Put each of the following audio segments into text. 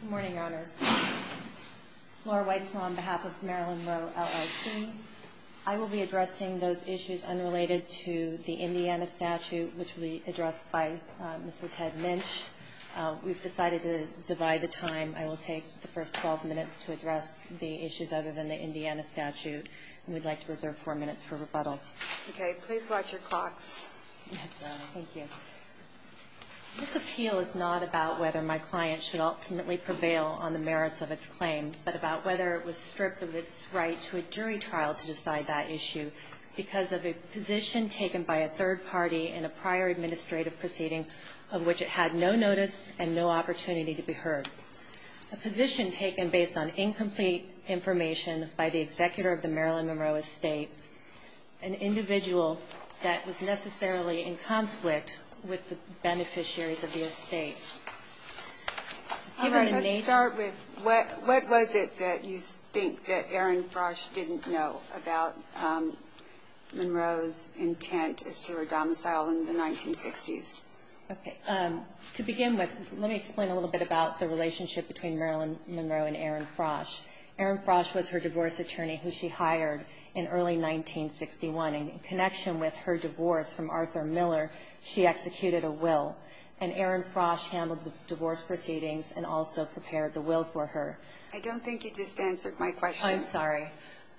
Good morning, Your Honors. Laura Weitzma on behalf of Marilyn Monroe LLC. I will be addressing those issues unrelated to the Indiana statute, which will be addressed by Mr. Ted Minch. We've decided to divide the time. I will take the first 12 minutes to address the issues other than the Indiana statute, and we'd like to reserve four minutes for rebuttal. Okay. Please watch your clocks. This appeal is not about whether my client should ultimately prevail on the merits of its claim, but about whether it was stripped of its right to a jury trial to decide that issue because of a position taken by a third party in a prior administrative proceeding of which it had no notice and no opportunity to be heard. A position taken based on incomplete information by the executor of the Marilyn Monroe estate, an individual that was necessarily in conflict with the beneficiaries of the estate. All right. Let's start with what was it that you think that Erin Frosch didn't know about Monroe's intent as to her domicile in the 1960s? To begin with, let me explain a little bit about the relationship between Marilyn Monroe and Erin Frosch. Erin Frosch was her divorce attorney who she hired in early 1961. In connection with her divorce from Arthur Miller, she executed a will, and Erin Frosch handled the divorce proceedings and also prepared the will for her. I don't think you just answered my question. I'm sorry.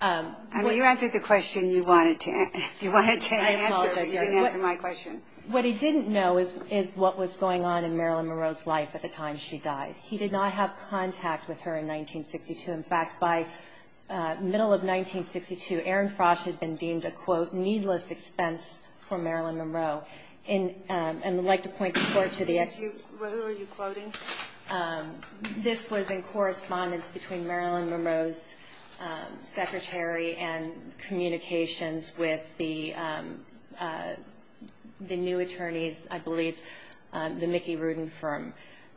I mean, you answered the question you wanted to answer. You didn't answer my question. What he didn't know is what was going on in Marilyn Monroe's life at the time she died. He did not have contact with her in 1962. In fact, by the middle of 1962, Erin Frosch had been deemed a, quote, needless expense for Marilyn Monroe. And I'd like to point the court to the ex- Who are you quoting? This was in correspondence between Marilyn Monroe's secretary and communications with the new attorneys, I believe, the Mickey Rudin firm.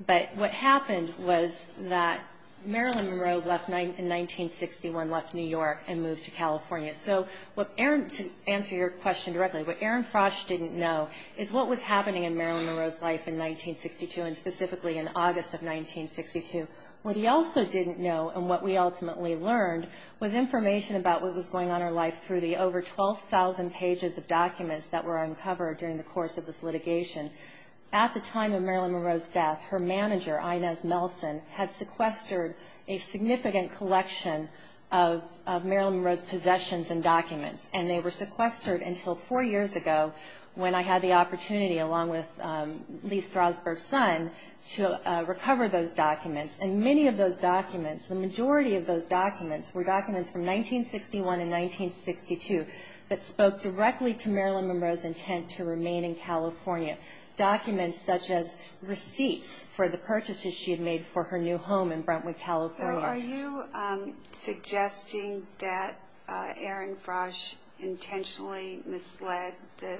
But what happened was that Marilyn Monroe left in 1961, left New York and moved to California. So to answer your question directly, what Erin Frosch didn't know is what was happening in Marilyn Monroe's life in 1962, and specifically in August of 1962. What he also didn't know and what we ultimately learned was information about what was going on in her life through the over 12,000 pages of documents that were uncovered during the course of this litigation. At the time of Marilyn Monroe's death, her manager, Inez Melson, had sequestered a significant collection of Marilyn Monroe's possessions and documents. And they were sequestered until four years ago when I had the opportunity, along with Lee Strasberg's son, to recover those documents. And many of those documents, the majority of those documents, were documents from 1961 and 1962 that spoke directly to Marilyn Monroe's intent to remain in California. Documents such as receipts for the purchases she had made for her new home in Brentwood, California. So are you suggesting that Erin Frosch intentionally misled the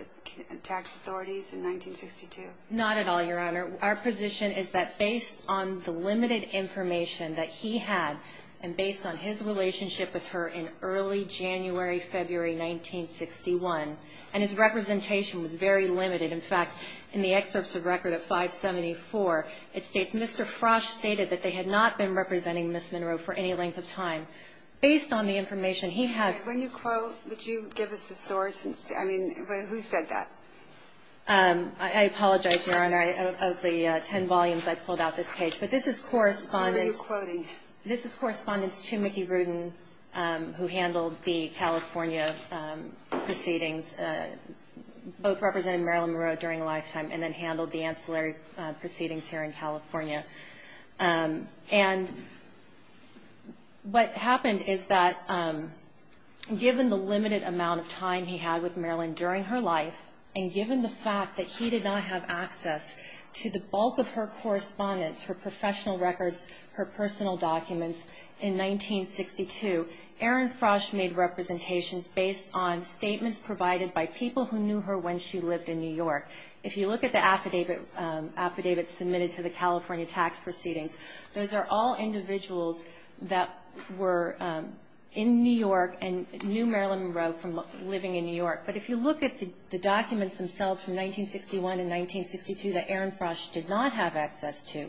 tax authorities in 1962? Not at all, Your Honor. Our position is that based on the limited information that he had, and based on his relationship with her in early January-February 1961, and his representation was very limited. In fact, in the excerpts of record of 574, it states Mr. Frosch stated that they had not been representing Ms. Monroe for any length of time. Based on the information he had... When you quote, would you give us the source? I mean, who said that? I apologize, Your Honor. Of the ten volumes, I pulled out this page. But this is correspondence... What are you quoting? This is correspondence to Mickey Rudin, who handled the California proceedings, both representing Marilyn Monroe during a lifetime, and then handled the ancillary proceedings here in California. And what happened is that given the limited amount of time he had with Marilyn during her life, and given the fact that he did not have access to the bulk of her correspondence, her professional records, her personal documents, in 1962, Erin Frosch made representations based on statements provided by people who knew her when she lived in New York. If you look at the affidavit submitted to the California tax proceedings, those are all individuals that were in New York and knew Marilyn Monroe from living in New York. But if you look at the documents themselves from 1961 and 1962 that Erin Frosch did not have access to,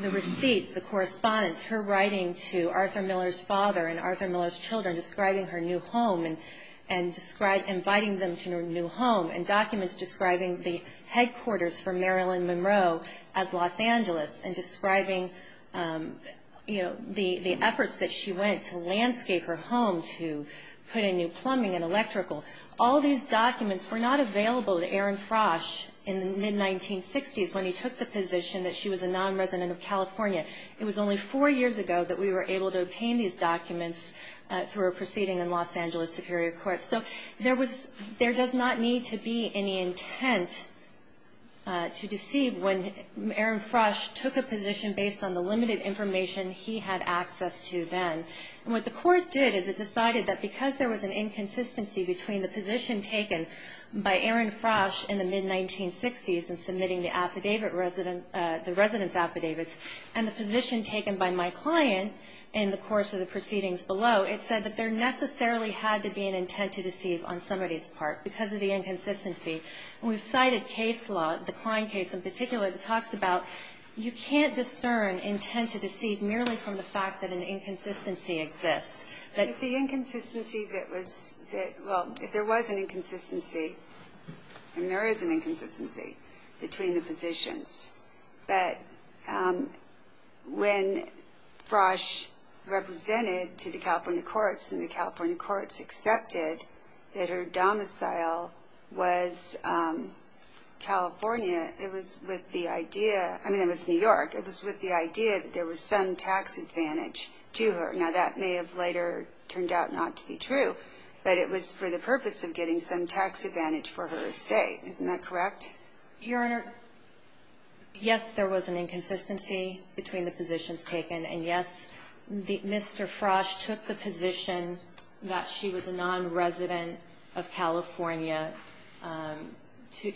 the receipts, the correspondence, her writing to Arthur Miller's father and Arthur Miller's children describing her new home, and inviting them to her new home, and documents describing the headquarters for Marilyn Monroe as Los Angeles, and describing, you know, the efforts that she went to landscape her home to put in new plumbing and electrical, all these documents were not available to Erin Frosch in the mid-1960s when he took the position that she was a non-resident of California. It was only four years ago that we were able to obtain these documents through a proceeding in Los Angeles Superior Court. So there does not need to be any intent to deceive when Erin Frosch took a position based on the limited information he had access to then. And what the court did is it decided that because there was an inconsistency between the position taken by Erin Frosch in the mid-1960s in submitting the affidavit resident, the residence affidavits, and the position taken by my client in the course of the proceedings below, it said that there necessarily had to be an intent to deceive on somebody's part because of the inconsistency. And we've cited case law, the Klein case in particular, that talks about you can't discern intent to deceive merely from the fact that an inconsistency exists. But the inconsistency that was, well, if there was an inconsistency, and there is an inconsistency between the positions, that when Frosch represented to the California courts, and the California courts accepted that her domicile was California, it was with the idea, I mean, it was New York, it was with the idea that there was some tax advantage to her. Now, that may have later turned out not to be true, but it was for the purpose of getting some tax advantage for her estate. Isn't that correct? Your Honor, yes, there was an inconsistency between the positions taken, and yes, Mr. Frosch took the position that she was a non-resident of California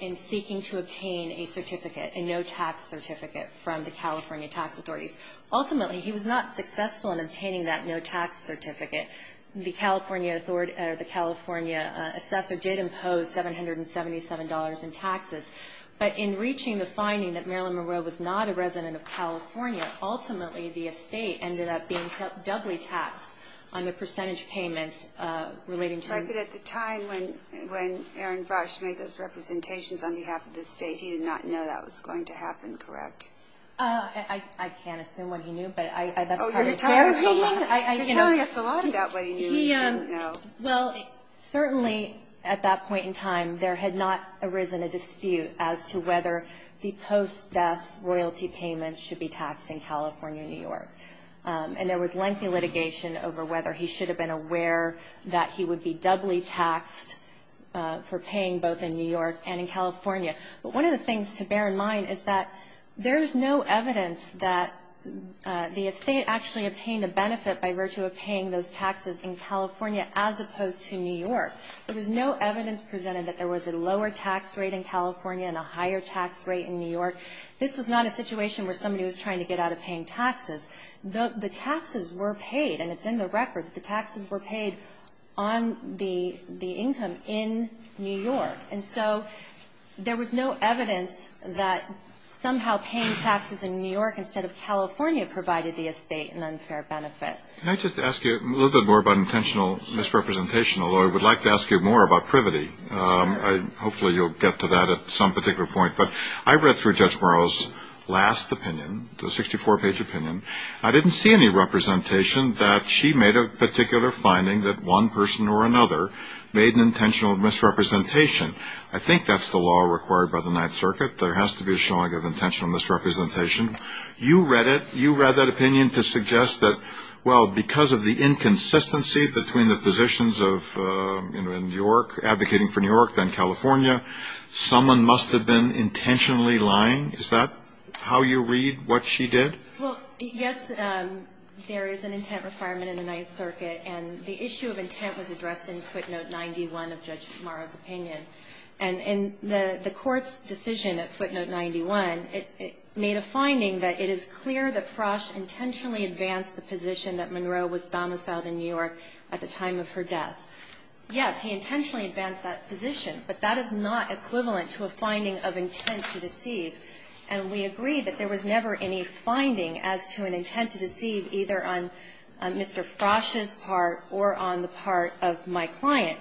in seeking to obtain a certificate, a no-tax certificate from the California tax authorities. Ultimately, he was not successful in obtaining that no-tax certificate. The California assessor did impose $777 in taxes, but in reaching the finding that Marilyn Monroe was not a resident of California, ultimately the estate ended up being doubly taxed on the percentage payments relating to her. Right, but at the time when Aaron Frosch made those representations on behalf of the state, he did not know that was going to happen, correct? I can't assume what he knew, but that's part of the case. Oh, you're telling us a lot about what he knew and didn't know. Well, certainly at that point in time, there had not arisen a dispute as to whether the estate was going to be taxed in New York, and there was lengthy litigation over whether he should have been aware that he would be doubly taxed for paying both in New York and in California. But one of the things to bear in mind is that there is no evidence that the estate actually obtained a benefit by virtue of paying those taxes in California as opposed to New York. There was no evidence presented that there was a lower tax rate in California and a higher tax rate in New York. This was not a situation where somebody was trying to get out of paying taxes. The taxes were paid, and it's in the record, the taxes were paid on the income in New York. And so there was no evidence that somehow paying taxes in New York instead of California provided the estate an unfair benefit. Can I just ask you a little bit more about intentional misrepresentation, although I would like to ask you more about privity? Sure. Hopefully you'll get to that at some particular point, but I read through Judge O'Connor's opinion, the 64-page opinion. I didn't see any representation that she made a particular finding that one person or another made an intentional misrepresentation. I think that's the law required by the Ninth Circuit. There has to be a showing of intentional misrepresentation. You read it. You read that opinion to suggest that, well, because of the inconsistency between the positions of, you know, in New York, advocating for New York, then California, someone must have been intentionally lying. Is that how you read what she did? Well, yes, there is an intent requirement in the Ninth Circuit, and the issue of intent was addressed in footnote 91 of Judge Marra's opinion. And in the Court's decision at footnote 91, it made a finding that it is clear that Frosch intentionally advanced the position that Monroe was domiciled in New York at the time of her death. Yes, he intentionally advanced that position, but that is not equivalent to a finding of intent to deceive. And we agree that there was never any finding as to an intent to deceive, either on Mr. Frosch's part or on the part of my client.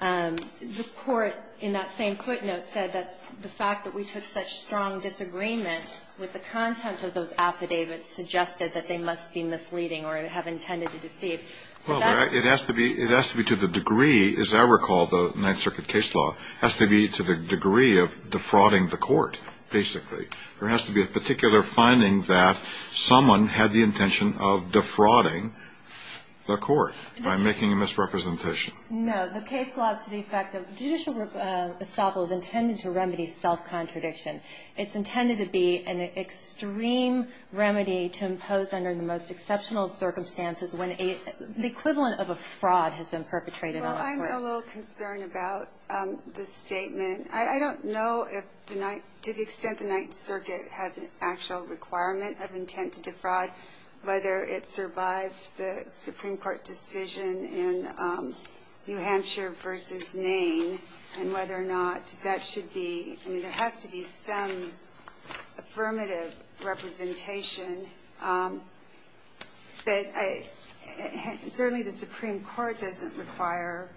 The Court, in that same footnote, said that the fact that we took such strong disagreement with the content of those affidavits suggested that they must be misleading or have intended to deceive. Well, it has to be to the degree, as I recall the Ninth Circuit case law, has to be to the degree of defrauding the Court, basically. There has to be a particular finding that someone had the intention of defrauding the Court by making a misrepresentation. No, the case law is to the effect of judicial estoppel is intended to remedy self-contradiction. It's intended to be an extreme remedy to impose under the most exceptional circumstances when the equivalent of a fraud has been perpetrated on the Court. I'm a little concerned about the statement. I don't know if the Ninth, to the extent the Ninth Circuit has an actual requirement of intent to defraud, whether it survives the Supreme Court decision in New Hampshire v. Nain, and whether or not that should be, I mean, there has to be some affirmative representation. But certainly the Supreme Court doesn't require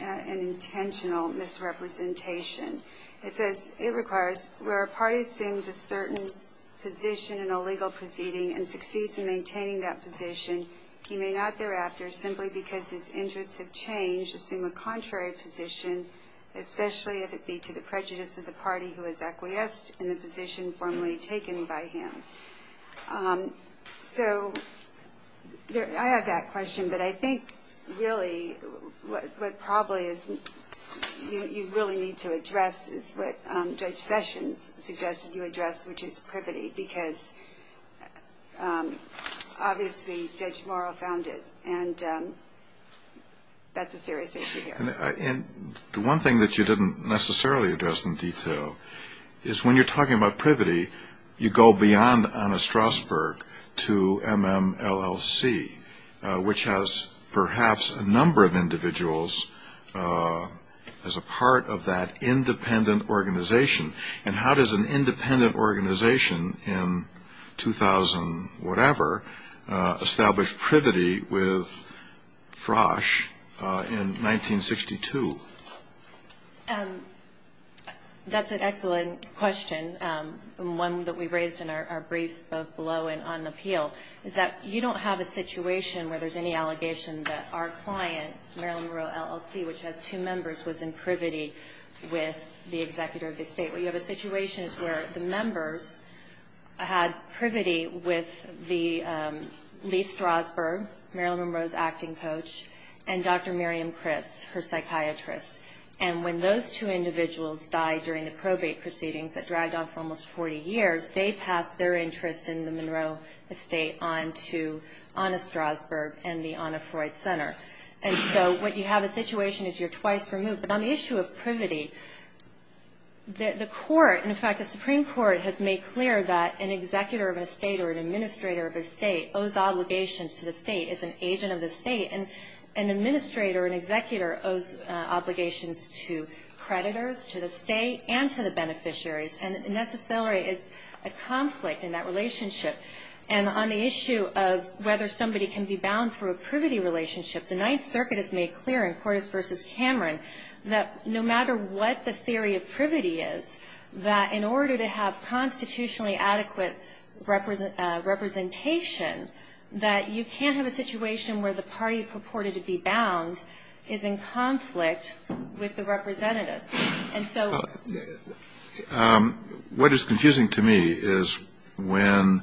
an intentional misrepresentation. It says it requires where a party assumes a certain position in a legal proceeding and succeeds in maintaining that position, he may not thereafter, simply because his interests have changed, assume a contrary position, especially if it be to the prejudice of the party who has acquiesced in the position formerly taken by him. So I have that question, but I think really what probably you really need to address is what Judge Sessions suggested you address, which is privity, because obviously Judge Morrow found it, and that's a serious issue here. And the one thing that you didn't necessarily address in detail is when you're talking about privity, you go beyond Anna Strasberg to MMLLC, which has perhaps a number of individuals as a part of that independent organization. And how does an independent organization in 2000-whatever establish privity with Frosch in 1962? That's an excellent question, one that we raised in our briefs both below and on the appeal, is that you don't have a situation where there's any allegation that our client, Marilyn Monroe LLC, which has two members, was in privity with the executive of the state. You have a situation where the members had privity with Lee Strasberg, Marilyn Monroe's acting coach, and Dr. Miriam Criss, her psychiatrist. And when those two individuals died during the probate proceedings that dragged on for almost 40 years, they passed their interest in the Monroe estate on to Anna Strasberg and the Anna Freud Center. And so what you have is a situation where you're twice removed. But on the issue of privity, the Supreme Court has made clear that an executor of a state or an administrator of a state owes obligations to the state, is an agent of the state, and an administrator or an executor owes obligations to creditors, to the state, and to the beneficiaries, and necessarily is a conflict in that relationship. And on the issue of whether somebody can be bound through a privity relationship, the Ninth Circuit has made clear in Cordes v. Cameron that no matter what the theory of privity is, that in order to have constitutionally adequate representation, that you can't have a situation where the party purported to be bound is in conflict with the representative. What is confusing to me is when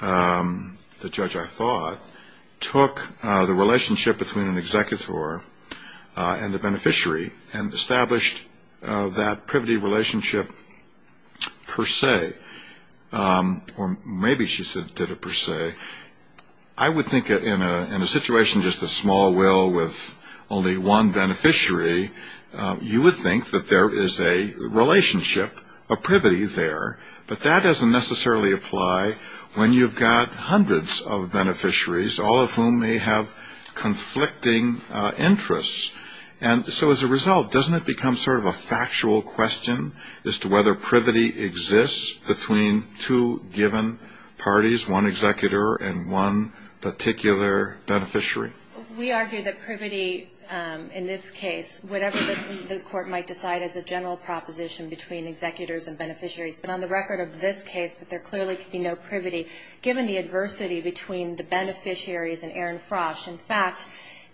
the judge, I thought, took the relationship between an executor and a beneficiary and established that privity relationship per se. Or maybe she did it per se. I would think in a situation just a small will with only one beneficiary, you would think that there is a relationship, a privity there. But that doesn't necessarily apply when you've got hundreds of beneficiaries, all of whom may have conflicting interests. And so as a result, doesn't it become sort of a factual question as to whether privity exists between two given parties, one executor and one particular beneficiary? We argue that privity in this case, whatever the Court might decide, is a general proposition between executors and beneficiaries. But on the record of this case, that there clearly could be no privity given the adversity between the beneficiaries and Aaron Frosch. In fact,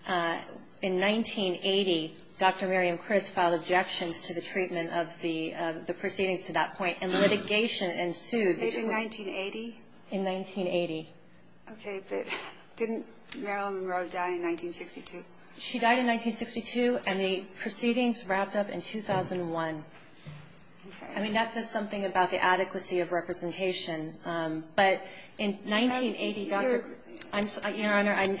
in 1980, Dr. Miriam Criss filed objections to the treatment of the proceedings to that point, and litigation ensued. In 1980? In 1980. Okay, but didn't Marilyn Monroe die in 1962? She died in 1962, and the proceedings wrapped up in 2001. Okay. I mean, that says something about the adequacy of representation. But in 1980, Dr. — Your Honor, I'm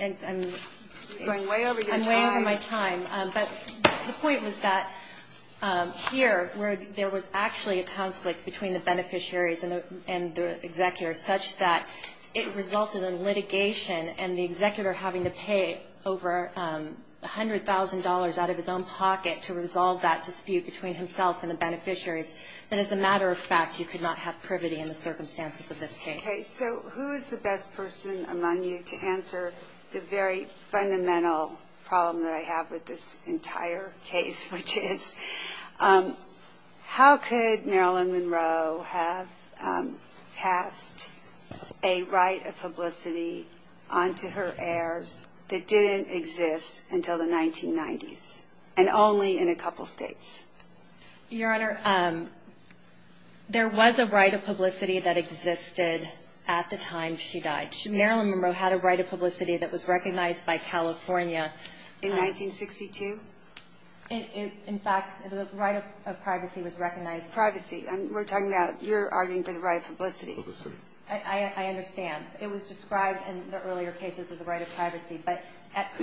going way over your time. I'm way over my time. But the point was that here, where there was actually a conflict between the beneficiaries and the executor, such that it resulted in litigation and the executor having to pay over $100,000 out of his own pocket to resolve that dispute between himself and the beneficiaries, then as a matter of fact, you could not have privity in the circumstances of this case. Okay. So who is the best person among you to answer the very fundamental problem that I have with this entire case, which is, how could Marilyn Monroe have passed a right of publicity onto her heirs that didn't exist until the 1990s, and only in a couple states? Your Honor, there was a right of publicity that existed at the time she died. Marilyn Monroe had a right of publicity that was recognized by California. In 1962? In fact, the right of privacy was recognized. Privacy. We're talking about your arguing for the right of publicity. Publicity. I understand. It was described in the earlier cases as a right of privacy.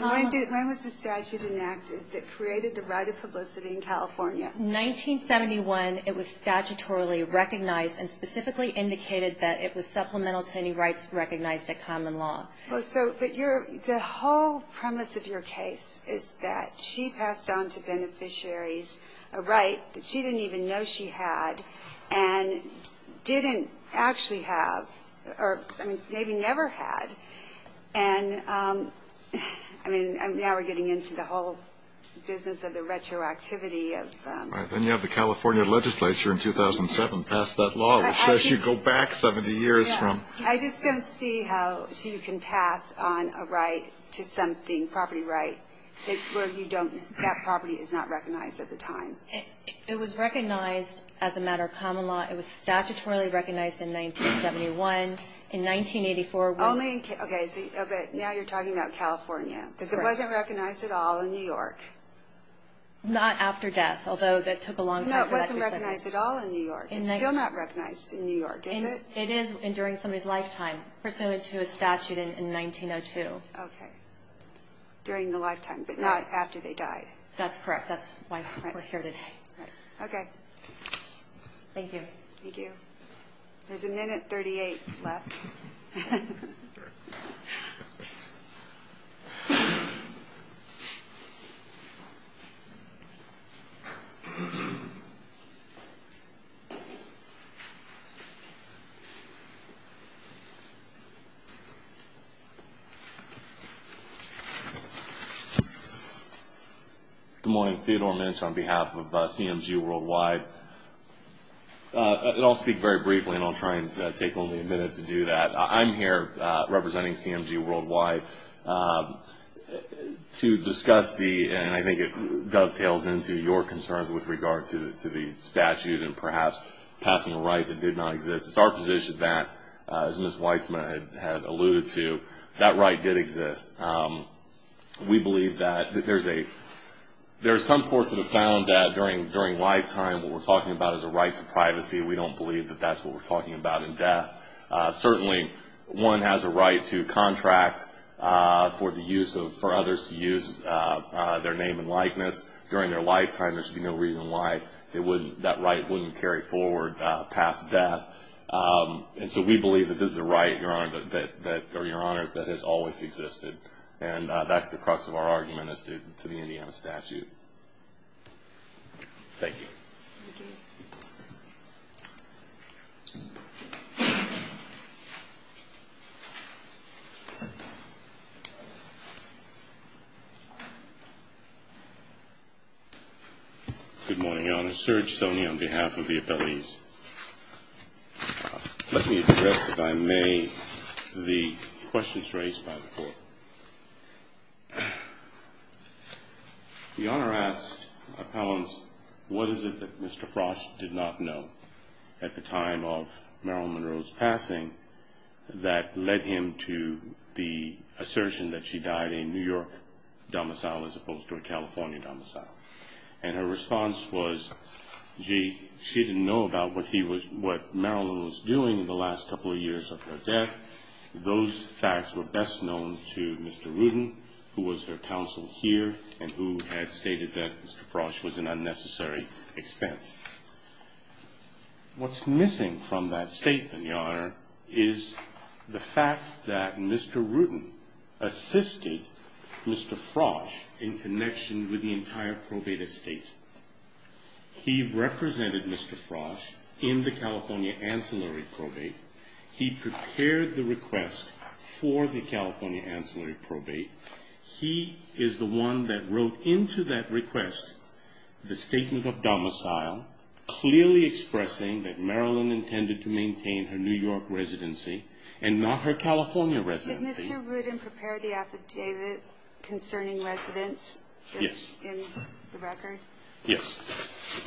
When was the statute enacted that created the right of publicity in California? 1971. It was statutorily recognized and specifically indicated that it was supplemental to any rights recognized at common law. But the whole premise of your case is that she passed onto beneficiaries a right that she didn't even know she had and didn't actually have, or maybe never had. And now we're getting into the whole business of the retroactivity of... Then you have the California legislature in 2007 pass that law, which says you go back 70 years from... I just don't see how she can pass on a right to something, a property right, where that property is not recognized at the time. It was recognized as a matter of common law. It was statutorily recognized in 1971. In 1984... Okay, but now you're talking about California, because it wasn't recognized at all in New York. Not after death, although that took a long time. No, it wasn't recognized at all in New York. It's still not recognized in New York, is it? It is during somebody's lifetime, pursuant to a statute in 1902. Okay. During the lifetime, but not after they died. That's correct. That's why we're here today. Okay. Thank you. Thank you. There's a minute 38 left. Good morning. Theodore Minch on behalf of CMG Worldwide. I'll speak very briefly, and I'll try and take only a minute to do that. I'm here representing CMG Worldwide to discuss the... and I think it dovetails into your concerns with regard to the statute and perhaps passing a right that did not exist. It's our position that, as Ms. Weitzman had alluded to, that right did exist. We believe that there's a... there's some courts that have found that during lifetime, what we're talking about is a right to privacy. We don't believe that that's what we're talking about in death. Certainly, one has a right to contract for the use of... for others to use their name and likeness during their lifetime. There should be no reason why that right wouldn't carry forward past death. And so we believe that this is a right, Your Honor, or Your Honors, that has always existed. And that's the crux of our argument as to the Indiana statute. Thank you. Thank you. Good morning, Your Honor. Serge Soni on behalf of the attorneys. Let me address, if I may, the questions raised by the court. The Honor asked appellants, what is it that Mr. Frosch did not know at the time of Marilyn Monroe's passing that led him to the assertion that she died a New York domicile as opposed to a California domicile? And her response was, gee, she didn't know about what Marilyn was doing in the last couple of years of her death. Those facts were best known to Mr. Rudin, who was her counsel here, and who had stated that Mr. Frosch was an unnecessary expense. What's missing from that statement, Your Honor, is the fact that Mr. Rudin assisted Mr. Frosch in connection with the entire probate estate. He represented Mr. Frosch in the California ancillary probate. He prepared the request for the California ancillary probate. He is the one that wrote into that request the statement of domicile, clearly expressing that Marilyn intended to maintain her New York residency and not her California residency. Did Mr. Rudin prepare the affidavit concerning residence? Yes. In the record? Yes.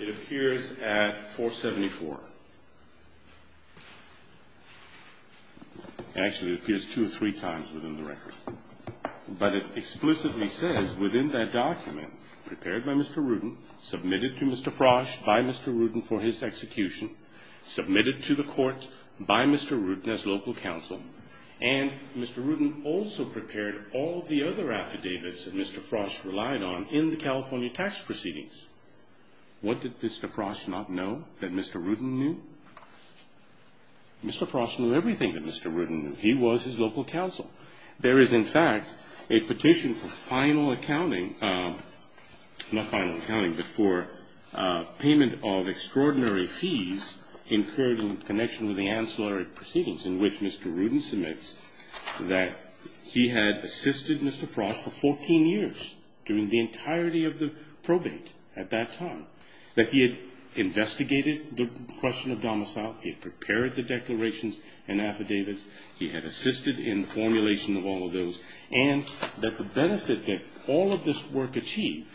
It appears at 474. Actually, it appears two or three times within the record. But it explicitly says within that document, prepared by Mr. Rudin, submitted to Mr. Frosch by Mr. Rudin for his execution, submitted to the court by Mr. Rudin as local counsel, and Mr. Rudin also prepared all the other affidavits that Mr. Frosch relied on in the California tax proceedings. What did Mr. Frosch not know that Mr. Rudin knew? Mr. Frosch knew everything that Mr. Rudin knew. He was his local counsel. There is, in fact, a petition for final accounting, not final accounting, but for payment of extraordinary fees incurred in connection with the ancillary proceedings in which Mr. Rudin submits that he had assisted Mr. Frosch for 14 years during the entirety of the probate at that time, that he had investigated the question of domicile, he had prepared the declarations and affidavits, he had assisted in formulation of all of those, and that the benefit that all of this work achieved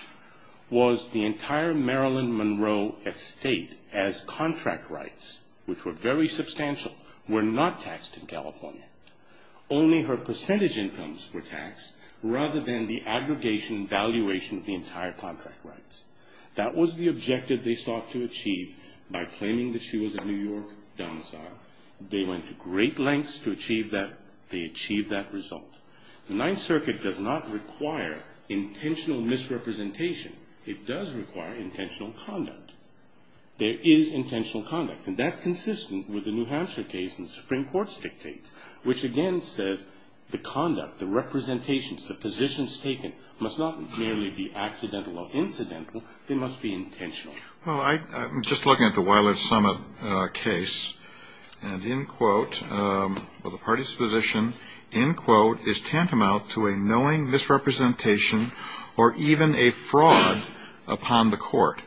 was the entire Marilyn Monroe estate as contract rights, which were very substantial, were not taxed in California. Only her percentage incomes were taxed rather than the aggregation and valuation of the entire contract rights. That was the objective they sought to achieve by claiming that she was a New York domicile. They went to great lengths to achieve that. They achieved that result. The Ninth Circuit does not require intentional misrepresentation. It does require intentional conduct. There is intentional conduct, and that's consistent with the New Hampshire case and the Supreme Court's dictates, which again says the conduct, the representations, the positions taken must not merely be accidental or incidental, they must be intentional. Well, I'm just looking at the Wyler-Summit case, and in quote, the party's position, in quote, is tantamount to a knowing misrepresentation or even a fraud upon the court.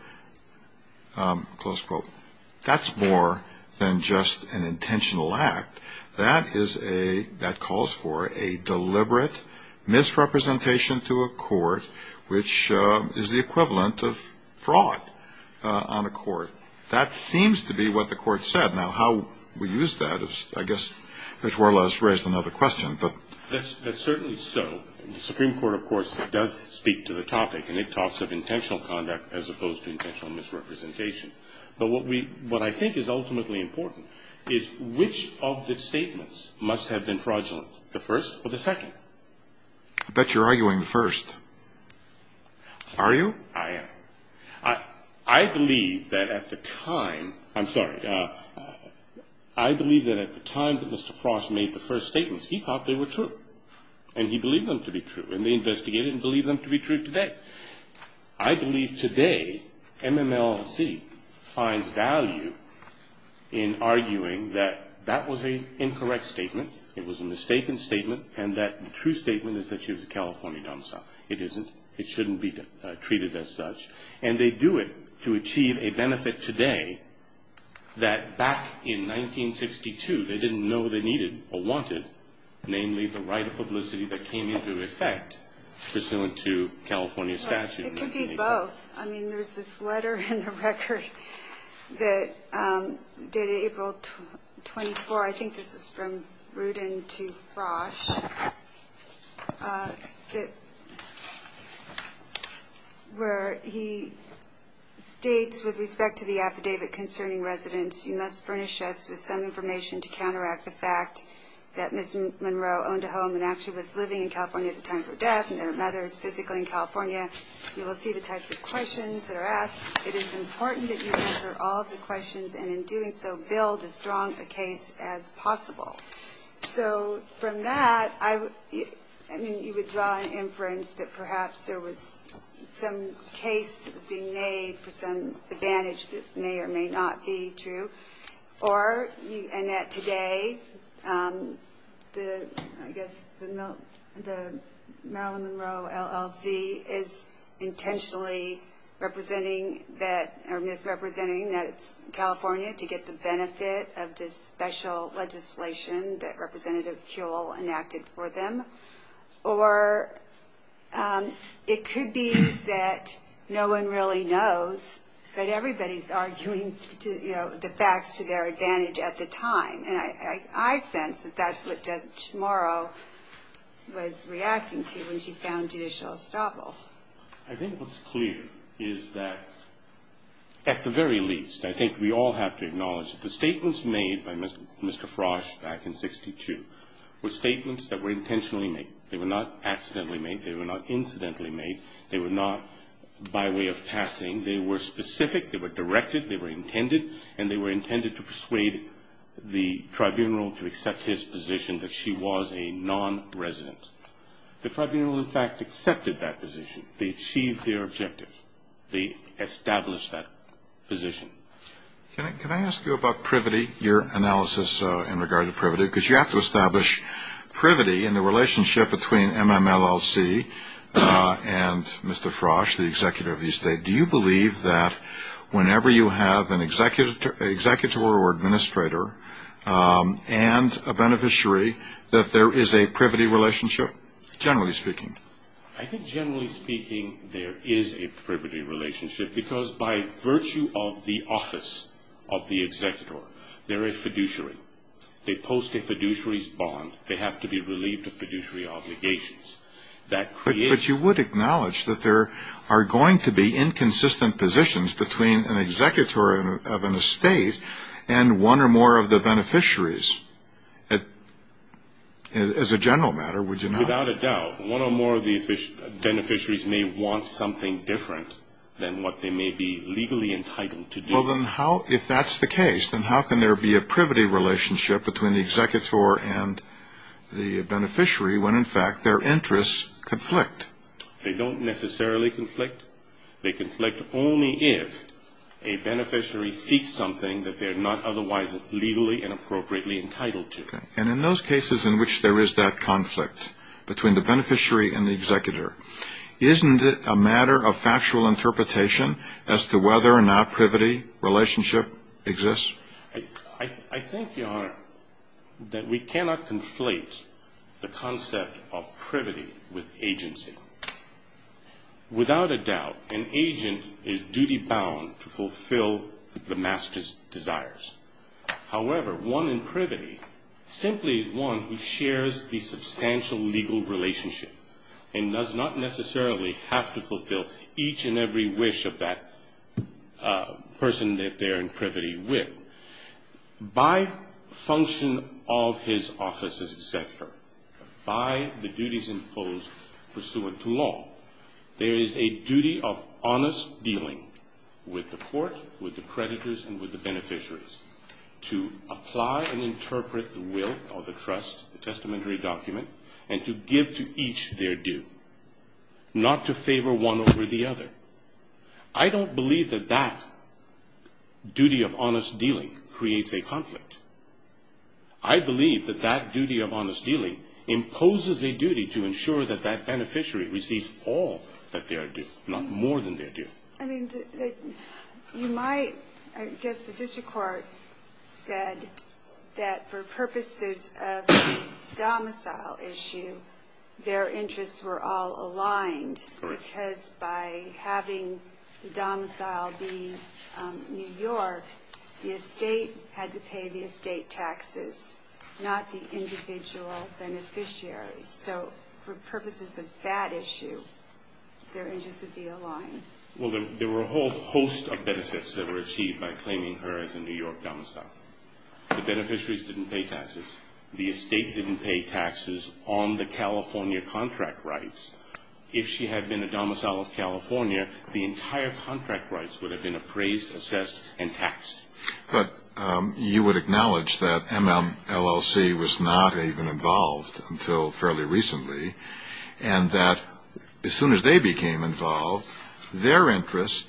Um, close quote. That's more than just an intentional act. That is a, that calls for a deliberate misrepresentation to a court, which is the equivalent of fraud on a court. That seems to be what the court said. Now, how we use that is, I guess, that's more or less raised another question, but That's certainly so. The Supreme Court, of course, does speak to the topic, and it talks of intentional conduct as opposed to intentional misrepresentation. But what we, what I think is ultimately important is which of the statements must have been fraudulent? The first or the second? I bet you're arguing the first. Are you? I am. I believe that at the time, I'm sorry, I believe that at the time that Mr. Frost made the first statements, he thought they were true. And he believed them to be true. And they investigated and believed them to be true today. I believe today, MMLC finds value in arguing that that was an incorrect statement, it was a mistaken statement, and that the true statement is that she was a California domicile. It isn't. It shouldn't be treated as such. And they do it to achieve a benefit today that back in 1962, they didn't know they needed or wanted, namely, the right of publicity that came into effect pursuant to California statute. It could be both. I mean, there's this letter in the record that dated April 24, I think this is from Rudin to Frosch, where he states with respect to the affidavit concerning residents, you must furnish us with some information to counteract the fact that Ms. Monroe owned a home and actually was living in California at the time of her death, and that her mother is physically in California. You will see the types of questions that are asked. It is important that you answer all of the questions, and in doing so, build as strong a case as possible. So, from that, I mean, you would draw an inference that perhaps there was some case that was being made for some advantage that may or may not be true. Or, and that today, the, I guess, the Marilyn Monroe LLC is intentionally representing that, or is representing that it's California to get the benefit of this special legislation that Representative Kuehl enacted for them. Or, it could be that no one really knows that everybody's arguing to, you know, the facts to their advantage at the time. And I sense that that's what Judge Morrow was reacting to when she found judicial estoppel. I think what's clear is that at the very least, I think we all have to acknowledge that the statements made by Mr. Frosch back in 62 were statements that were intentionally made. They were not accidentally made. They were not incidentally made. They were not by way of passing. They were specific. They were directed. They were intended. And they were intended to persuade the tribunal to accept his position that she was a non-resident. The tribunal, in fact, accepted that position. They achieved their objective. They established that position. Can I ask you about privity, your analysis in regard to privity? Because you have to establish privity in the judiciary. And Mr. Frosch, the executive of the state, do you believe that whenever you have an executor or administrator and a beneficiary, that there is a privity relationship, generally speaking? I think generally speaking, there is a privity relationship, because by virtue of the office of the executor, they're a fiduciary. They post a fiduciary's bond. They have to be relieved of that. But you would acknowledge that there are going to be inconsistent positions between an executor of an estate and one or more of the beneficiaries. As a general matter, would you not? Without a doubt. One or more of the beneficiaries may want something different than what they may be legally entitled to do. Well, then how, if that's the case, then how can there be a privity relationship between the executor and the beneficiary when, in fact, their interests conflict? They don't necessarily conflict. They conflict only if a beneficiary seeks something that they're not otherwise legally and appropriately entitled to. And in those cases in which there is that conflict between the beneficiary and the executor, isn't it a matter of factual interpretation as to whether or not privity relationship exists? I think, Your Honor, that we cannot conflate the concept of privity with agency. Without a doubt, an agent is duty bound to fulfill the master's desires. However, one in privity simply is one who shares the substantial legal relationship and does not necessarily have to fulfill each and every wish of that person that they're in privity with. By function of his office as executor, by the duties imposed pursuant to law, there is a duty of honest dealing with the court, with the creditors, and with the beneficiaries to apply and interpret the will or the trust, the testamentary document, and to give to each their due, not to favor one over the other. I don't believe that that duty of honest dealing creates a conflict. I believe that that duty of honest dealing imposes a duty to ensure that that beneficiary receives all that they are due, not more than they are due. I mean, you might I guess the district court said that for purposes of the domicile issue, their interests were all aligned because by having the domicile be in New York, the estate had to pay the estate taxes, not the individual beneficiaries. So for purposes of that issue, their interests would be aligned. Well, there were a whole host of benefits that were achieved by claiming her as a New York domicile. The beneficiaries didn't pay taxes. The estate didn't pay taxes on the California contract rights. If she had been a domicile of California, the benefits were raised, assessed, and taxed. But you would acknowledge that MMLLC was not even involved until fairly recently, and that as soon as they became involved, their interest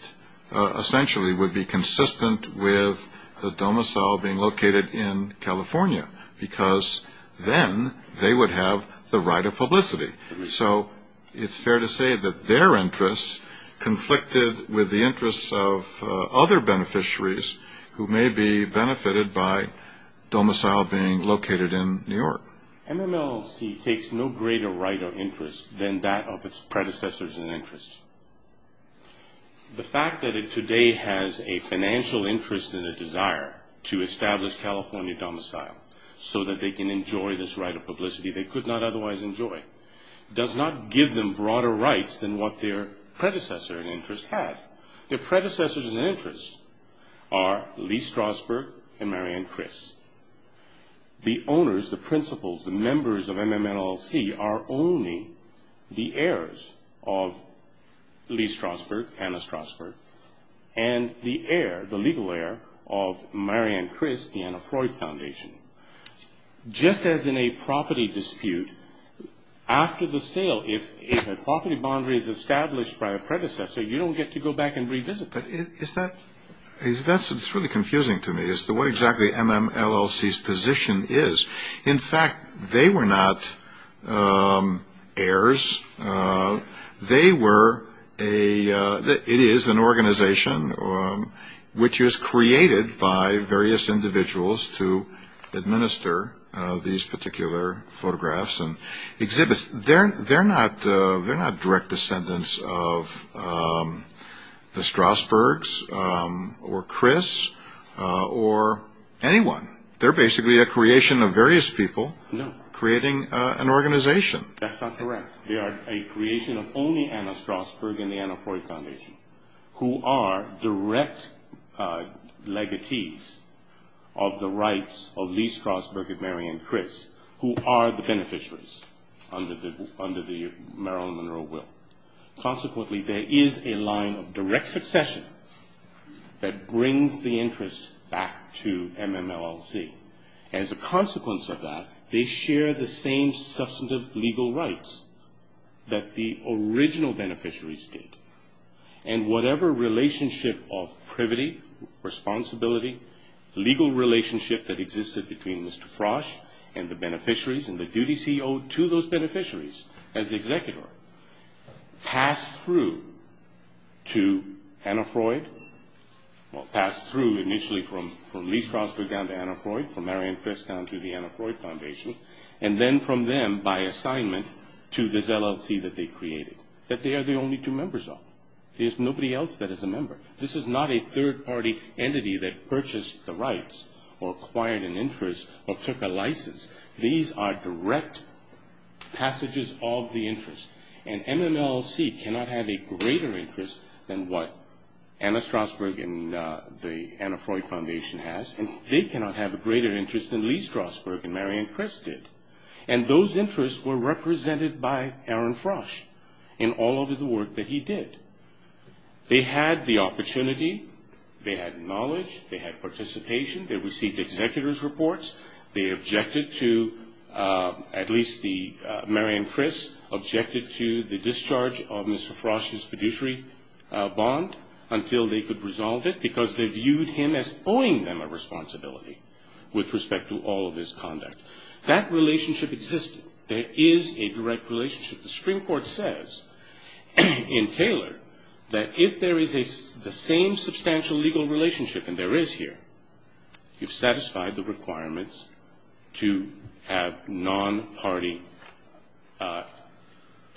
essentially would be consistent with the domicile being located in California because then they would have the right of publicity. So it's fair to say that their interests conflicted with the interests of other beneficiaries who may be benefited by domicile being located in New York. MMLLC takes no greater right of interest than that of its predecessors in interest. The fact that it today has a financial interest and a desire to establish California domicile so that they can enjoy this right of publicity they could not otherwise enjoy does not give them broader rights than what their predecessor in interest had. Their predecessors in interest are Lee Strasberg and Marianne Criss. The owners, the principals, the members of MMLLC are only the heirs of Lee Strasberg, Anna Strasberg, and the heir, the legal heir, of Marianne Criss, the Anna Freud Foundation. Just as in a property dispute, after the sale, if a property boundary is established by a predecessor, you don't get to go back and revisit it. It's really confusing to me as to what exactly MMLLC's position is. In fact, they were not heirs. They were a it is an organization which is created by various individuals to administer these particular photographs and they're not direct descendants of the Strasbergs or Criss or anyone. They're basically a creation of various people creating an organization. That's not correct. They are a creation of only Anna Strasberg and the Anna Freud Foundation who are direct legatees of the rights of Lee Strasberg and Marianne Criss who are the beneficiaries under the Marilyn Monroe will. Consequently, there is a line of direct succession that brings the interest back to MMLLC. As a consequence of that, they share the same substantive legal rights that the original beneficiaries did. And whatever relationship of privity, responsibility, legal relationship that existed between Mr. Frosch and the beneficiaries and the duties he owed to those beneficiaries as executor, passed through to Anna Freud. Passed through initially from Lee Strasberg down to Anna Freud, from Marianne Criss down to the Anna Freud Foundation and then from them by assignment to this LLC that they created that they are the only two members of. There's nobody else that is a member. This is not a third party entity that purchased the rights or took a license. These are direct passages of the interest and MMLLC cannot have a greater interest than what Anna Strasberg and the Anna Freud Foundation has and they cannot have a greater interest than Lee Strasberg and Marianne Criss did. And those interests were represented by Aaron Frosch in all of the work that he did. They had the opportunity, they had knowledge, they had participation, they received executor's reports, they objected to at least the Marianne Criss objected to the discharge of Mr. Frosch's fiduciary bond until they could resolve it because they viewed him as owing them a responsibility with respect to all of his conduct. That relationship existed. There is a direct relationship. The Supreme Court says in Taylor that if there is the same substantial legal relationship and there is here, you've satisfied the requirements to have non-party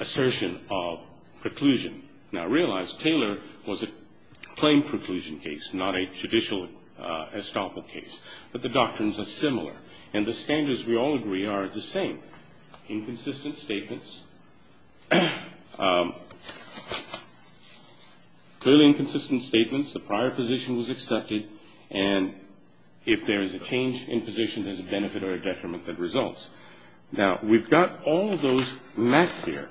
assertion of preclusion. Now realize Taylor was a claim preclusion case not a judicial estoppel case. But the doctrines are similar and the standards we all agree are the same. Inconsistent statements, clearly inconsistent statements, the prior position was accepted and if there is a change in position, there is a benefit or a detriment that results. Now we've got all of those mapped here.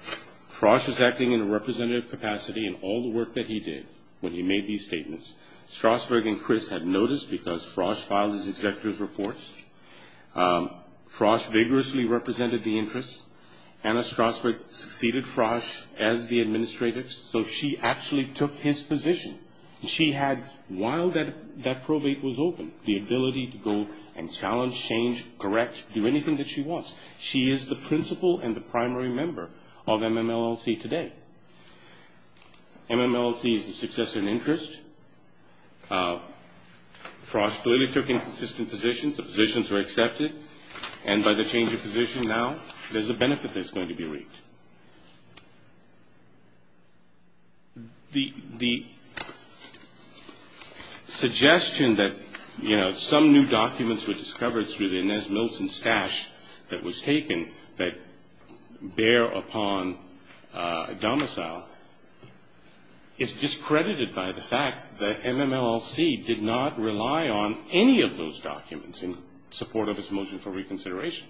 Frosch is acting in a representative capacity in all the work that he did when he made these statements. Strasburg and Criss had noticed because Frosch filed his executor's reports. Frosch vigorously represented the interests. Anna Strasburg succeeded Frosch as the administrator so she actually took his position. She had, while that probate was open, the ability to go and challenge, change, correct, do anything that she wants. She is the principal and the primary member of MMLLC today. MMLLC is the successor in interest. Frosch clearly took inconsistent positions. The positions were accepted and by the change of position now, there is a benefit that is going to be reaped. The suggestion that some new documents were discovered through the Inez Miltzen stash that was taken that bear upon domicile is discredited by the fact that MMLLC did not rely on any of those documents in support of its motion for reconsideration.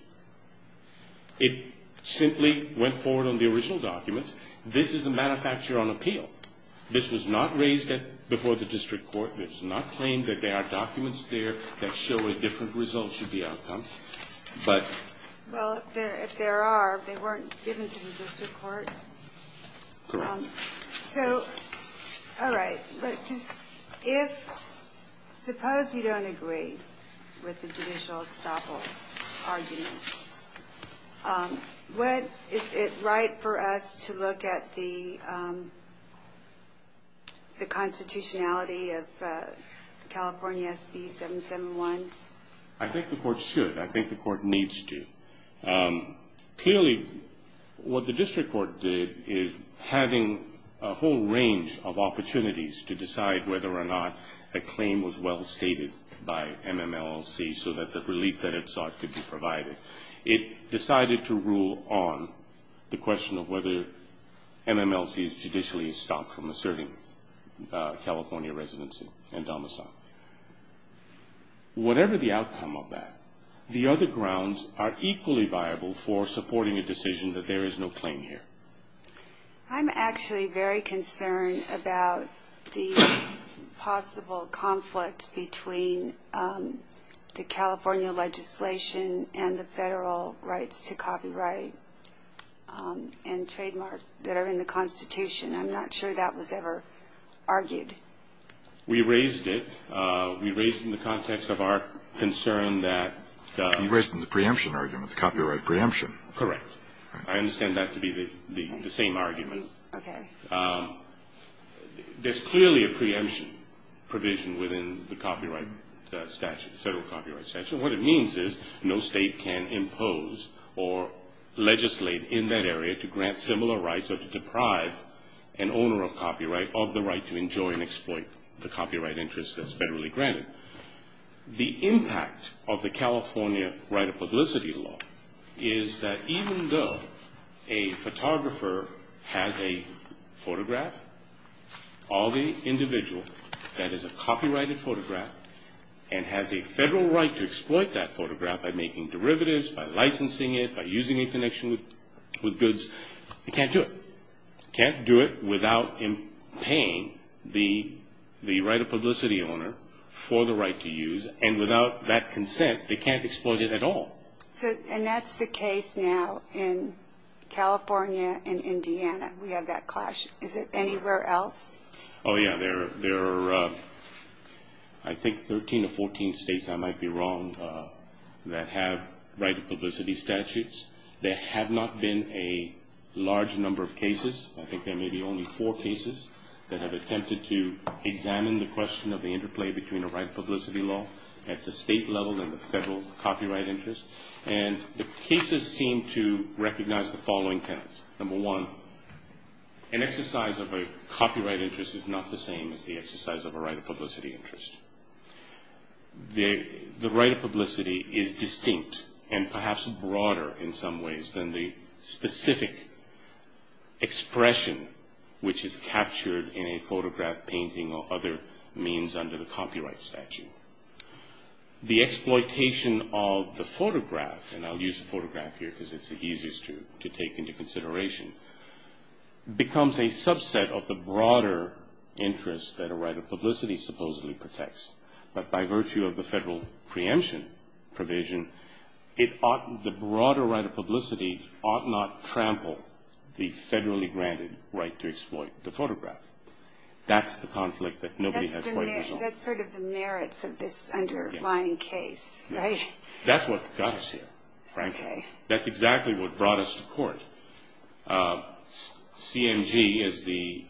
It simply went forward on the original documents. This is a manufacture on appeal. This was not raised before the district court. It is not claimed that there are documents there that show a different result should be outcome. But... If there are, they weren't given to the district court? Correct. All right. Suppose we don't agree with the judicial estoppel argument. What is it right for us to look at the constitutionality of California SB 771? I think the court should. I think the court needs to. Clearly, what the district court did is having a whole range of opportunities to decide whether or not a claim was well stated by MMLLC so that the relief that it sought could be provided. It decided to rule on the question of whether MMLLC is judicially estopped from asserting California residency and domicile. Whatever the outcome of that, the other grounds are equally viable for supporting a decision that there is no claim here. I'm actually very concerned about the possible conflict between the California legislation and the Federal rights to copyright and trademark that are in the constitution. I'm not sure that was ever argued. We raised it. We raised it in the context of our concern that... You raised it in the preemption argument, the copyright preemption. Correct. I understand that to be the same argument. Okay. There's clearly a preemption provision within the copyright statute, the Federal copyright statute. What it means is no state can impose or legislate in that area to grant similar rights or to deprive an owner of copyright of the right to enjoy and exploit the copyright interest that's federally granted. The impact of the California right of publicity law is that even though a photographer has a photograph, all the individual that is a copyrighted photograph and has a Federal right to exploit that photograph by making derivatives, by licensing it, by using in connection with goods, they can't do it. They can't do it without paying the right of publicity owner for the right to use and without that consent, they can't exploit it at all. And that's the case now in California and Indiana. We have that clash. Is it anywhere else? Oh yeah, there are I think 13 or 14 states, I might be wrong, that have right of publicity statutes. There have not been a large number of cases. I think there may be only four cases that have attempted to examine the question of the interplay between a right of publicity law at the state level and the Federal copyright interest. And the cases seem to recognize the following tenets. Number one, an exercise of a copyright interest is not the same as the exercise of a right of publicity interest. The right of publicity is distinct and perhaps broader in some ways than the specific expression which is captured in a photograph painting or other means under the copyright statute. The exploitation of the photograph, and I'll use photograph here because it's the easiest to become a subset of the broader interest that a right of publicity supposedly protects. But by virtue of the Federal preemption provision, the broader right of publicity ought not trample the federally granted right to exploit the photograph. That's the conflict that nobody has quite resolved. That's sort of the merits of this underlying case, right? That's what got us here, frankly. That's exactly what brought us to court. CMG, as the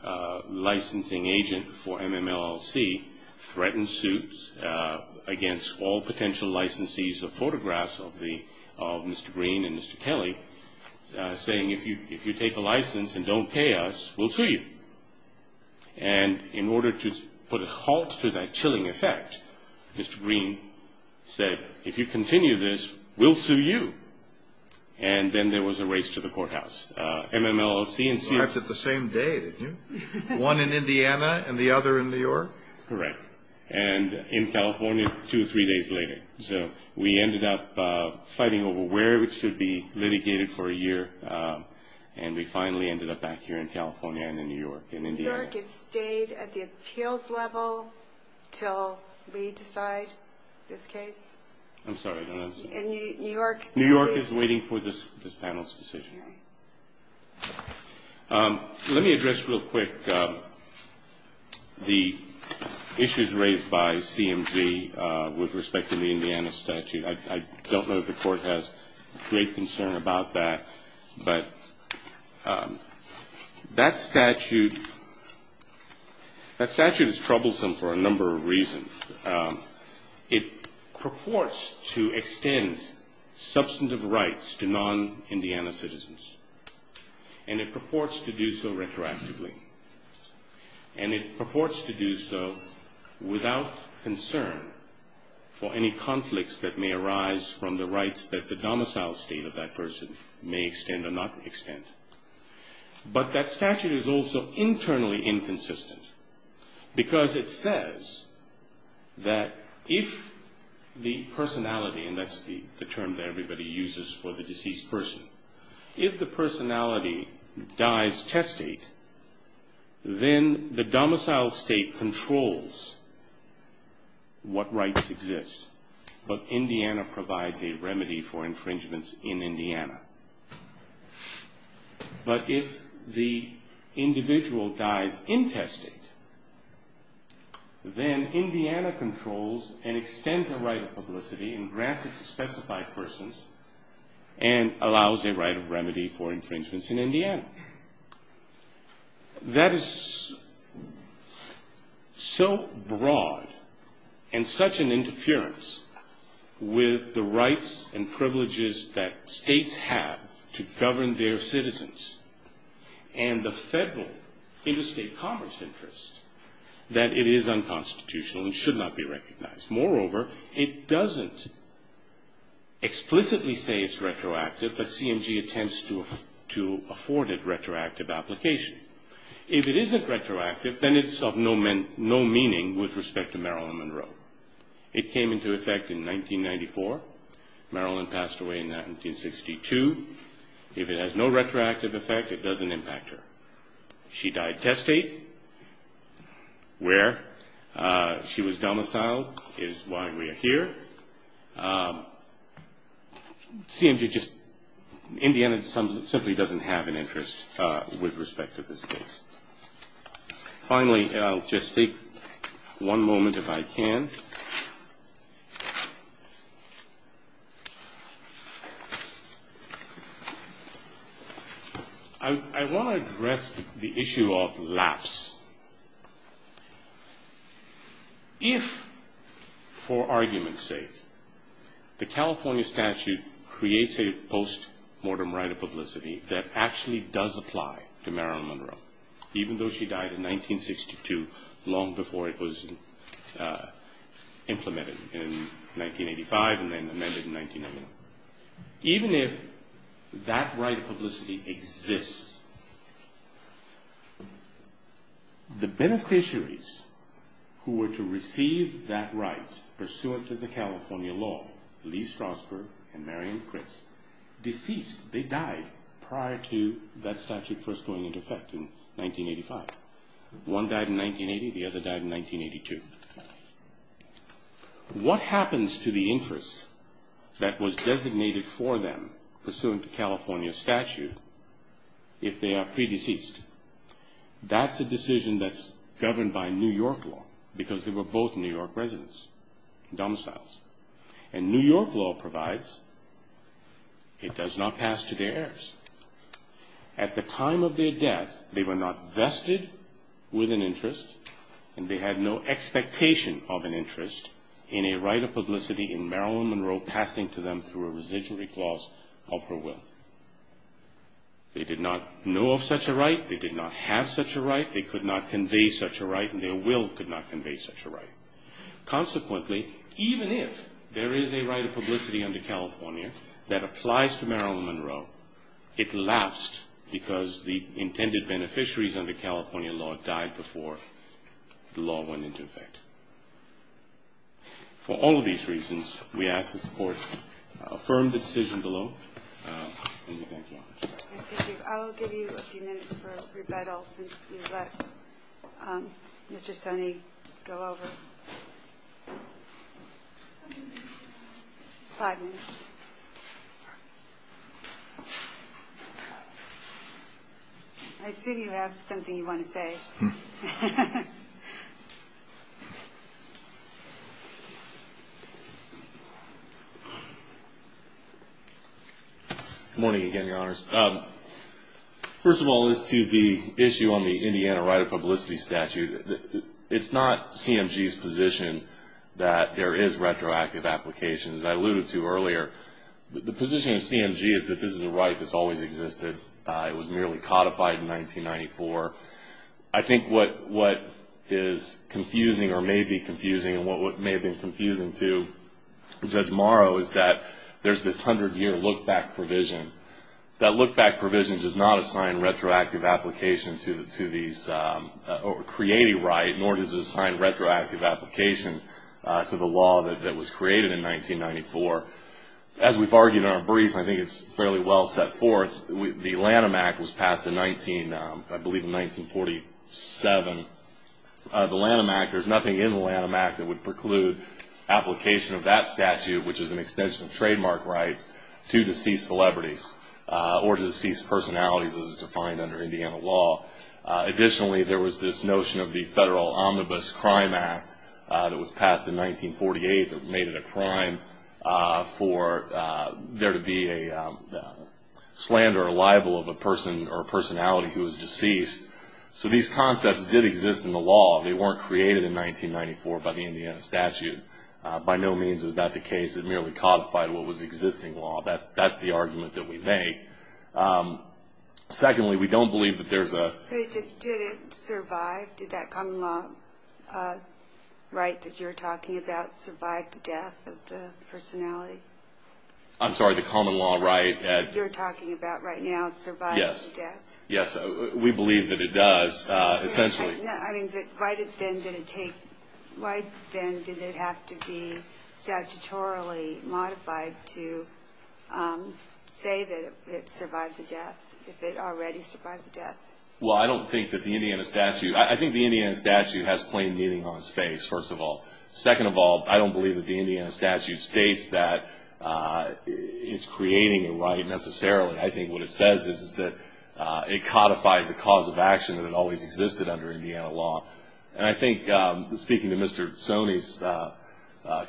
licensing agent for MMLLC, threatened suit against all potential licensees of photographs of Mr. Green and Mr. Kelly saying, if you take a license and don't pay us, we'll sue you. And in order to put a halt to that chilling effect, Mr. Green said, if you continue this, we'll sue you. And then there was a race to the courthouse. MMLLC and CMG... You acted the same day, didn't you? One in Indiana and the other in New York? Correct. And in California, two or three days later. So we ended up fighting over where it should be litigated for a year and we finally ended up back here in California and in New York, in Indiana. New York has stayed at the appeals level till we decide this case. I'm sorry, I don't understand. New York is waiting for this panel's decision. Let me address real quick the issues raised by CMG with respect to the Indiana statute. I don't know if the Court has great concern about that, but that statute is troublesome for a number of reasons. It purports to extend substantive rights to non-Indiana citizens and it purports to do so retroactively and it purports to do so without concern for any conflicts that may arise from the rights that the domicile state of that person may extend or not extend. But that statute is also internally inconsistent because it says that if the personality, and that's the term that everybody uses for the deceased person, if the personality dies testate, then the domicile state controls what rights exist. But Indiana provides a remedy for infringements in Indiana. But if the domicile state then Indiana controls and extends the right of publicity and grants it to specified persons and allows a right of remedy for infringements in Indiana. That is so broad and such an interference with the rights and privileges that states have to govern their citizens and the federal interstate commerce interest that it is unconstitutional and should not be recognized. Moreover, it doesn't explicitly say it's retroactive, but CMG attempts to afford it retroactive application. If it isn't retroactive, then it's of no meaning with respect to Marilyn Monroe. It came into effect in 1994. Marilyn passed away in 1962. If it has no retroactive effect, it doesn't impact her. She died testate, where she was domiciled is why we are here. CMG just, Indiana simply doesn't have an interest with respect to this case. Finally, I'll just take one moment if I can. I want to address the issue of lapse. If, for argument's sake, the California statute creates a post-mortem right of publicity that actually does apply to Marilyn Monroe, even though she died in 1962, long before it was implemented in 1985 and then amended in 1991. Even if that right of publicity exists, the beneficiaries who were to receive that right, pursuant to the California law, Lee Strasberg and Marion Criss, deceased. They died prior to that statute first going into effect in 1985. One died in 1980, the other died in 1982. What happens to the interest that was pursuant to California statute if they are pre-deceased? That's a decision that's governed by New York law, because they were both New York residents, domiciles. And New York law provides it does not pass to their heirs. At the time of their death, they were not vested with an interest, and they had no expectation of an interest in a right of publicity in Marilyn Monroe passing to them through a residual reclause of her will. They did not know of such a right, they did not have such a right, they could not convey such a right, and their will could not convey such a right. Consequently, even if there is a right of publicity under California that applies to Marilyn Monroe, it lapsed because the intended beneficiaries under California law died before the law went into effect. For all of these reasons, we ask for your support. Affirm the decision below, and we thank you all. I'll give you a few minutes for rebuttal since you let Mr. Sonny go over. Five minutes. I assume you have something you want to say. Hmm. Good morning again, Your Honors. First of all, as to the issue on the Indiana right of publicity statute, it's not CMG's position that there is retroactive application, as I alluded to earlier. The position of CMG is that this is a right that's always existed. It was merely codified in 1994. I think what is confusing, or may be confusing, and what may have been confusing to Judge Morrow is that there's this 100-year look-back provision. That look-back provision does not assign retroactive application to these, or create a right, nor does it assign retroactive application to the law that was created in 1994. As we've argued in our brief, I think it's fairly well set forth. The Lanham Act was passed in 19, I believe in 1947. The Lanham Act, there's nothing in the Lanham Act that would preclude application of that statute, which is an extension of trademark rights, to deceased celebrities, or deceased personalities, as it's defined under Indiana law. Additionally, there was this notion of the Federal Omnibus Crime Act that was passed in 1948 that made it a crime for there to be a slander or libel of a person or a personality who was deceased. So these concepts did exist in the law. They weren't created in 1994 by the Indiana statute. By no means is that the case. It merely codified what was existing law. That's the argument that we make. Secondly, we don't believe that there's a... Did it survive? Did that common law right that you're talking about survive the death of the personality? I'm sorry, the common law right that you're talking about right now survive the death? Yes. Yes, we believe that it does, essentially. Why then did it take... Why then did it have to be statutorily modified to say that it survived the death if it already survived the death? Well, I don't think that the Indiana statute... I think the Indiana statute has plain meaning on its face, first of all. Second of all, I don't believe that the Indiana statute states that it's creating a right, necessarily. I think what it says is that it codifies a cause of action that always existed under Indiana law. And I think, speaking to Mr. Sony's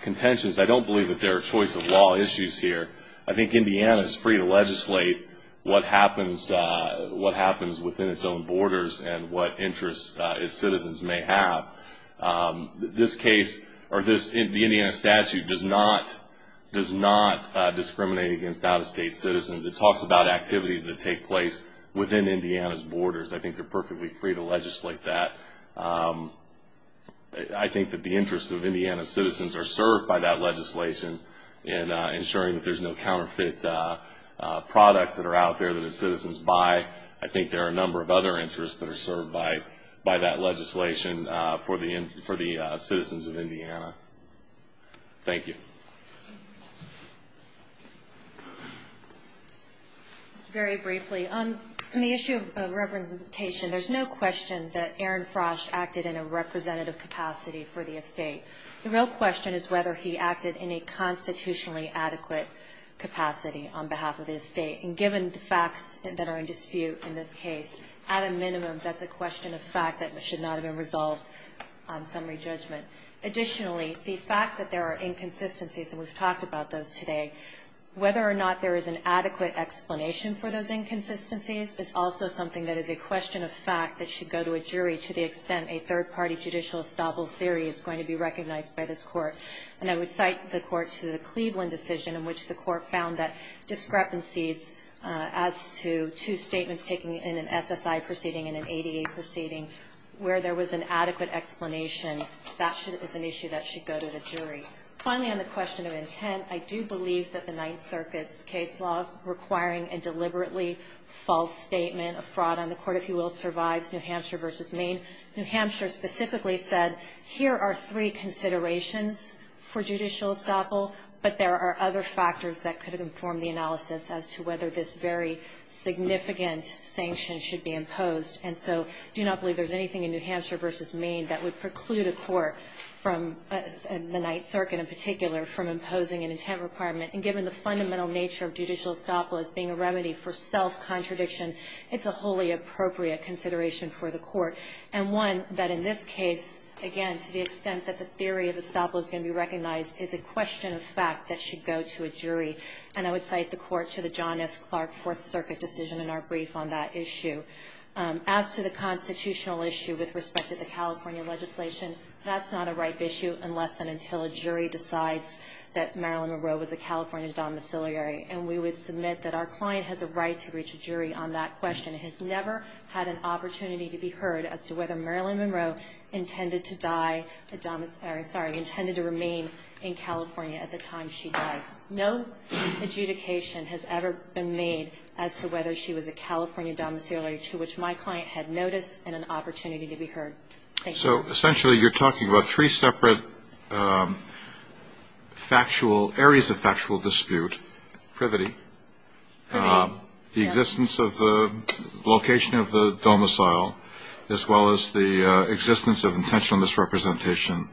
contentions, I don't believe that there are choice of law issues here. I think Indiana is free to legislate what happens within its own borders and what interests its citizens may have. This case, or the Indiana statute, does not discriminate against out-of-state citizens. It talks about activities that take place within Indiana's borders. I think they're perfectly free to legislate that. I think that the interests of Indiana's citizens are served by that legislation in ensuring that there's no counterfeit products that are out there that its citizens buy. I think there are a number of other interests that are served by that legislation for the citizens of Indiana. Thank you. Just very briefly, on the issue of representation, there's no question that Aaron Frosh acted in a representative capacity for the estate. The real question is whether he acted in a constitutionally adequate capacity on behalf of the estate. And given the facts that are in dispute in this case, at a minimum, that's a question of fact that should not have been resolved on summary judgment. Additionally, the fact that there are inconsistencies, and we've talked about those today, whether or not there is an adequate explanation for those inconsistencies is also something that is a question of fact that should go to a jury to the extent a third-party judicial estoppel theory is going to be recognized by this Court. And I would cite the Court to the Cleveland decision in which the Court found that discrepancies as to two statements taken in an SSI proceeding and an ADA proceeding where there was an adequate explanation, that is an issue that should go to the jury. Finally, on the Fifth and Ninth Circuits case law requiring a deliberately false statement of fraud on the Court, if you will, survives New Hampshire v. Maine, New Hampshire specifically said here are three considerations for judicial estoppel, but there are other factors that could inform the analysis as to whether this very significant sanction should be imposed. And so do not believe there's anything in New Hampshire v. Maine that would preclude a Court from the Ninth Circuit in particular from imposing an intent requirement. And given the fundamental nature of judicial estoppel as being a remedy for self-contradiction, it's a wholly appropriate consideration for the Court. And one that in this case, again, to the extent that the theory of estoppel is going to be recognized is a question of fact that should go to a jury. And I would cite the Court to the John S. Clark Fourth Circuit decision in our brief on that issue. As to the constitutional issue with respect to the California legislation, that's not a ripe issue unless and until a jury decides that Marilyn Monroe was a California domiciliary. And we would submit that our client has a right to reach a jury on that question. It has never had an opportunity to be heard as to whether Marilyn Monroe intended to die a domiciliary, sorry, intended to remain in California at the time she died. No adjudication has ever been made as to whether she was a California domiciliary to which my client had notice and an opportunity to be heard. Thank you. So essentially you're talking about three separate factual areas of factual dispute, privity, the existence of the location of the domicile as well as the existence of intentional misrepresentation.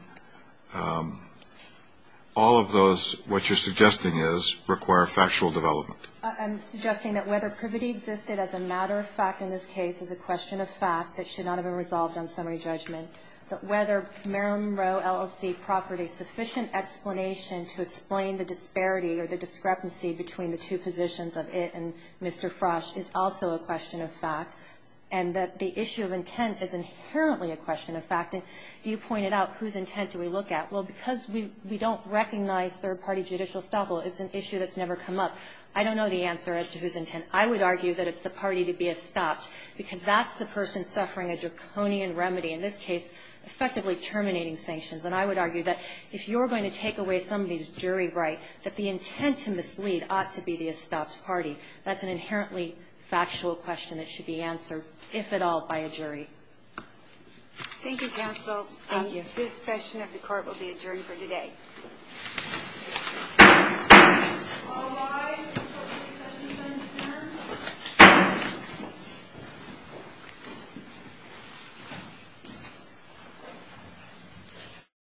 All of those, what you're suggesting is, require factual development. I'm suggesting that whether privity existed as a matter of fact in this case is a question of fact that should not have been resolved on summary judgment. That whether Marilyn Monroe LLC proffered a sufficient explanation to explain the disparity or the discrepancy between the two positions of it and Mr. Frosch is also a question of fact. And that the issue of intent is inherently a question of fact. And you pointed out whose intent do we look at? Well, because we don't recognize third-party judicial estoppel, it's an issue that's never come up. I don't know the answer as to whose intent. I would argue that it's the party to be estopped because that's the person suffering a draconian remedy, in this case effectively terminating sanctions. And I would argue that if you're going to take away somebody's jury right, that the intent to mislead ought to be the estopped party. That's an inherently factual question that should be answered, if at all, by a jury. Thank you, counsel. This session of the Court will be adjourned for today......................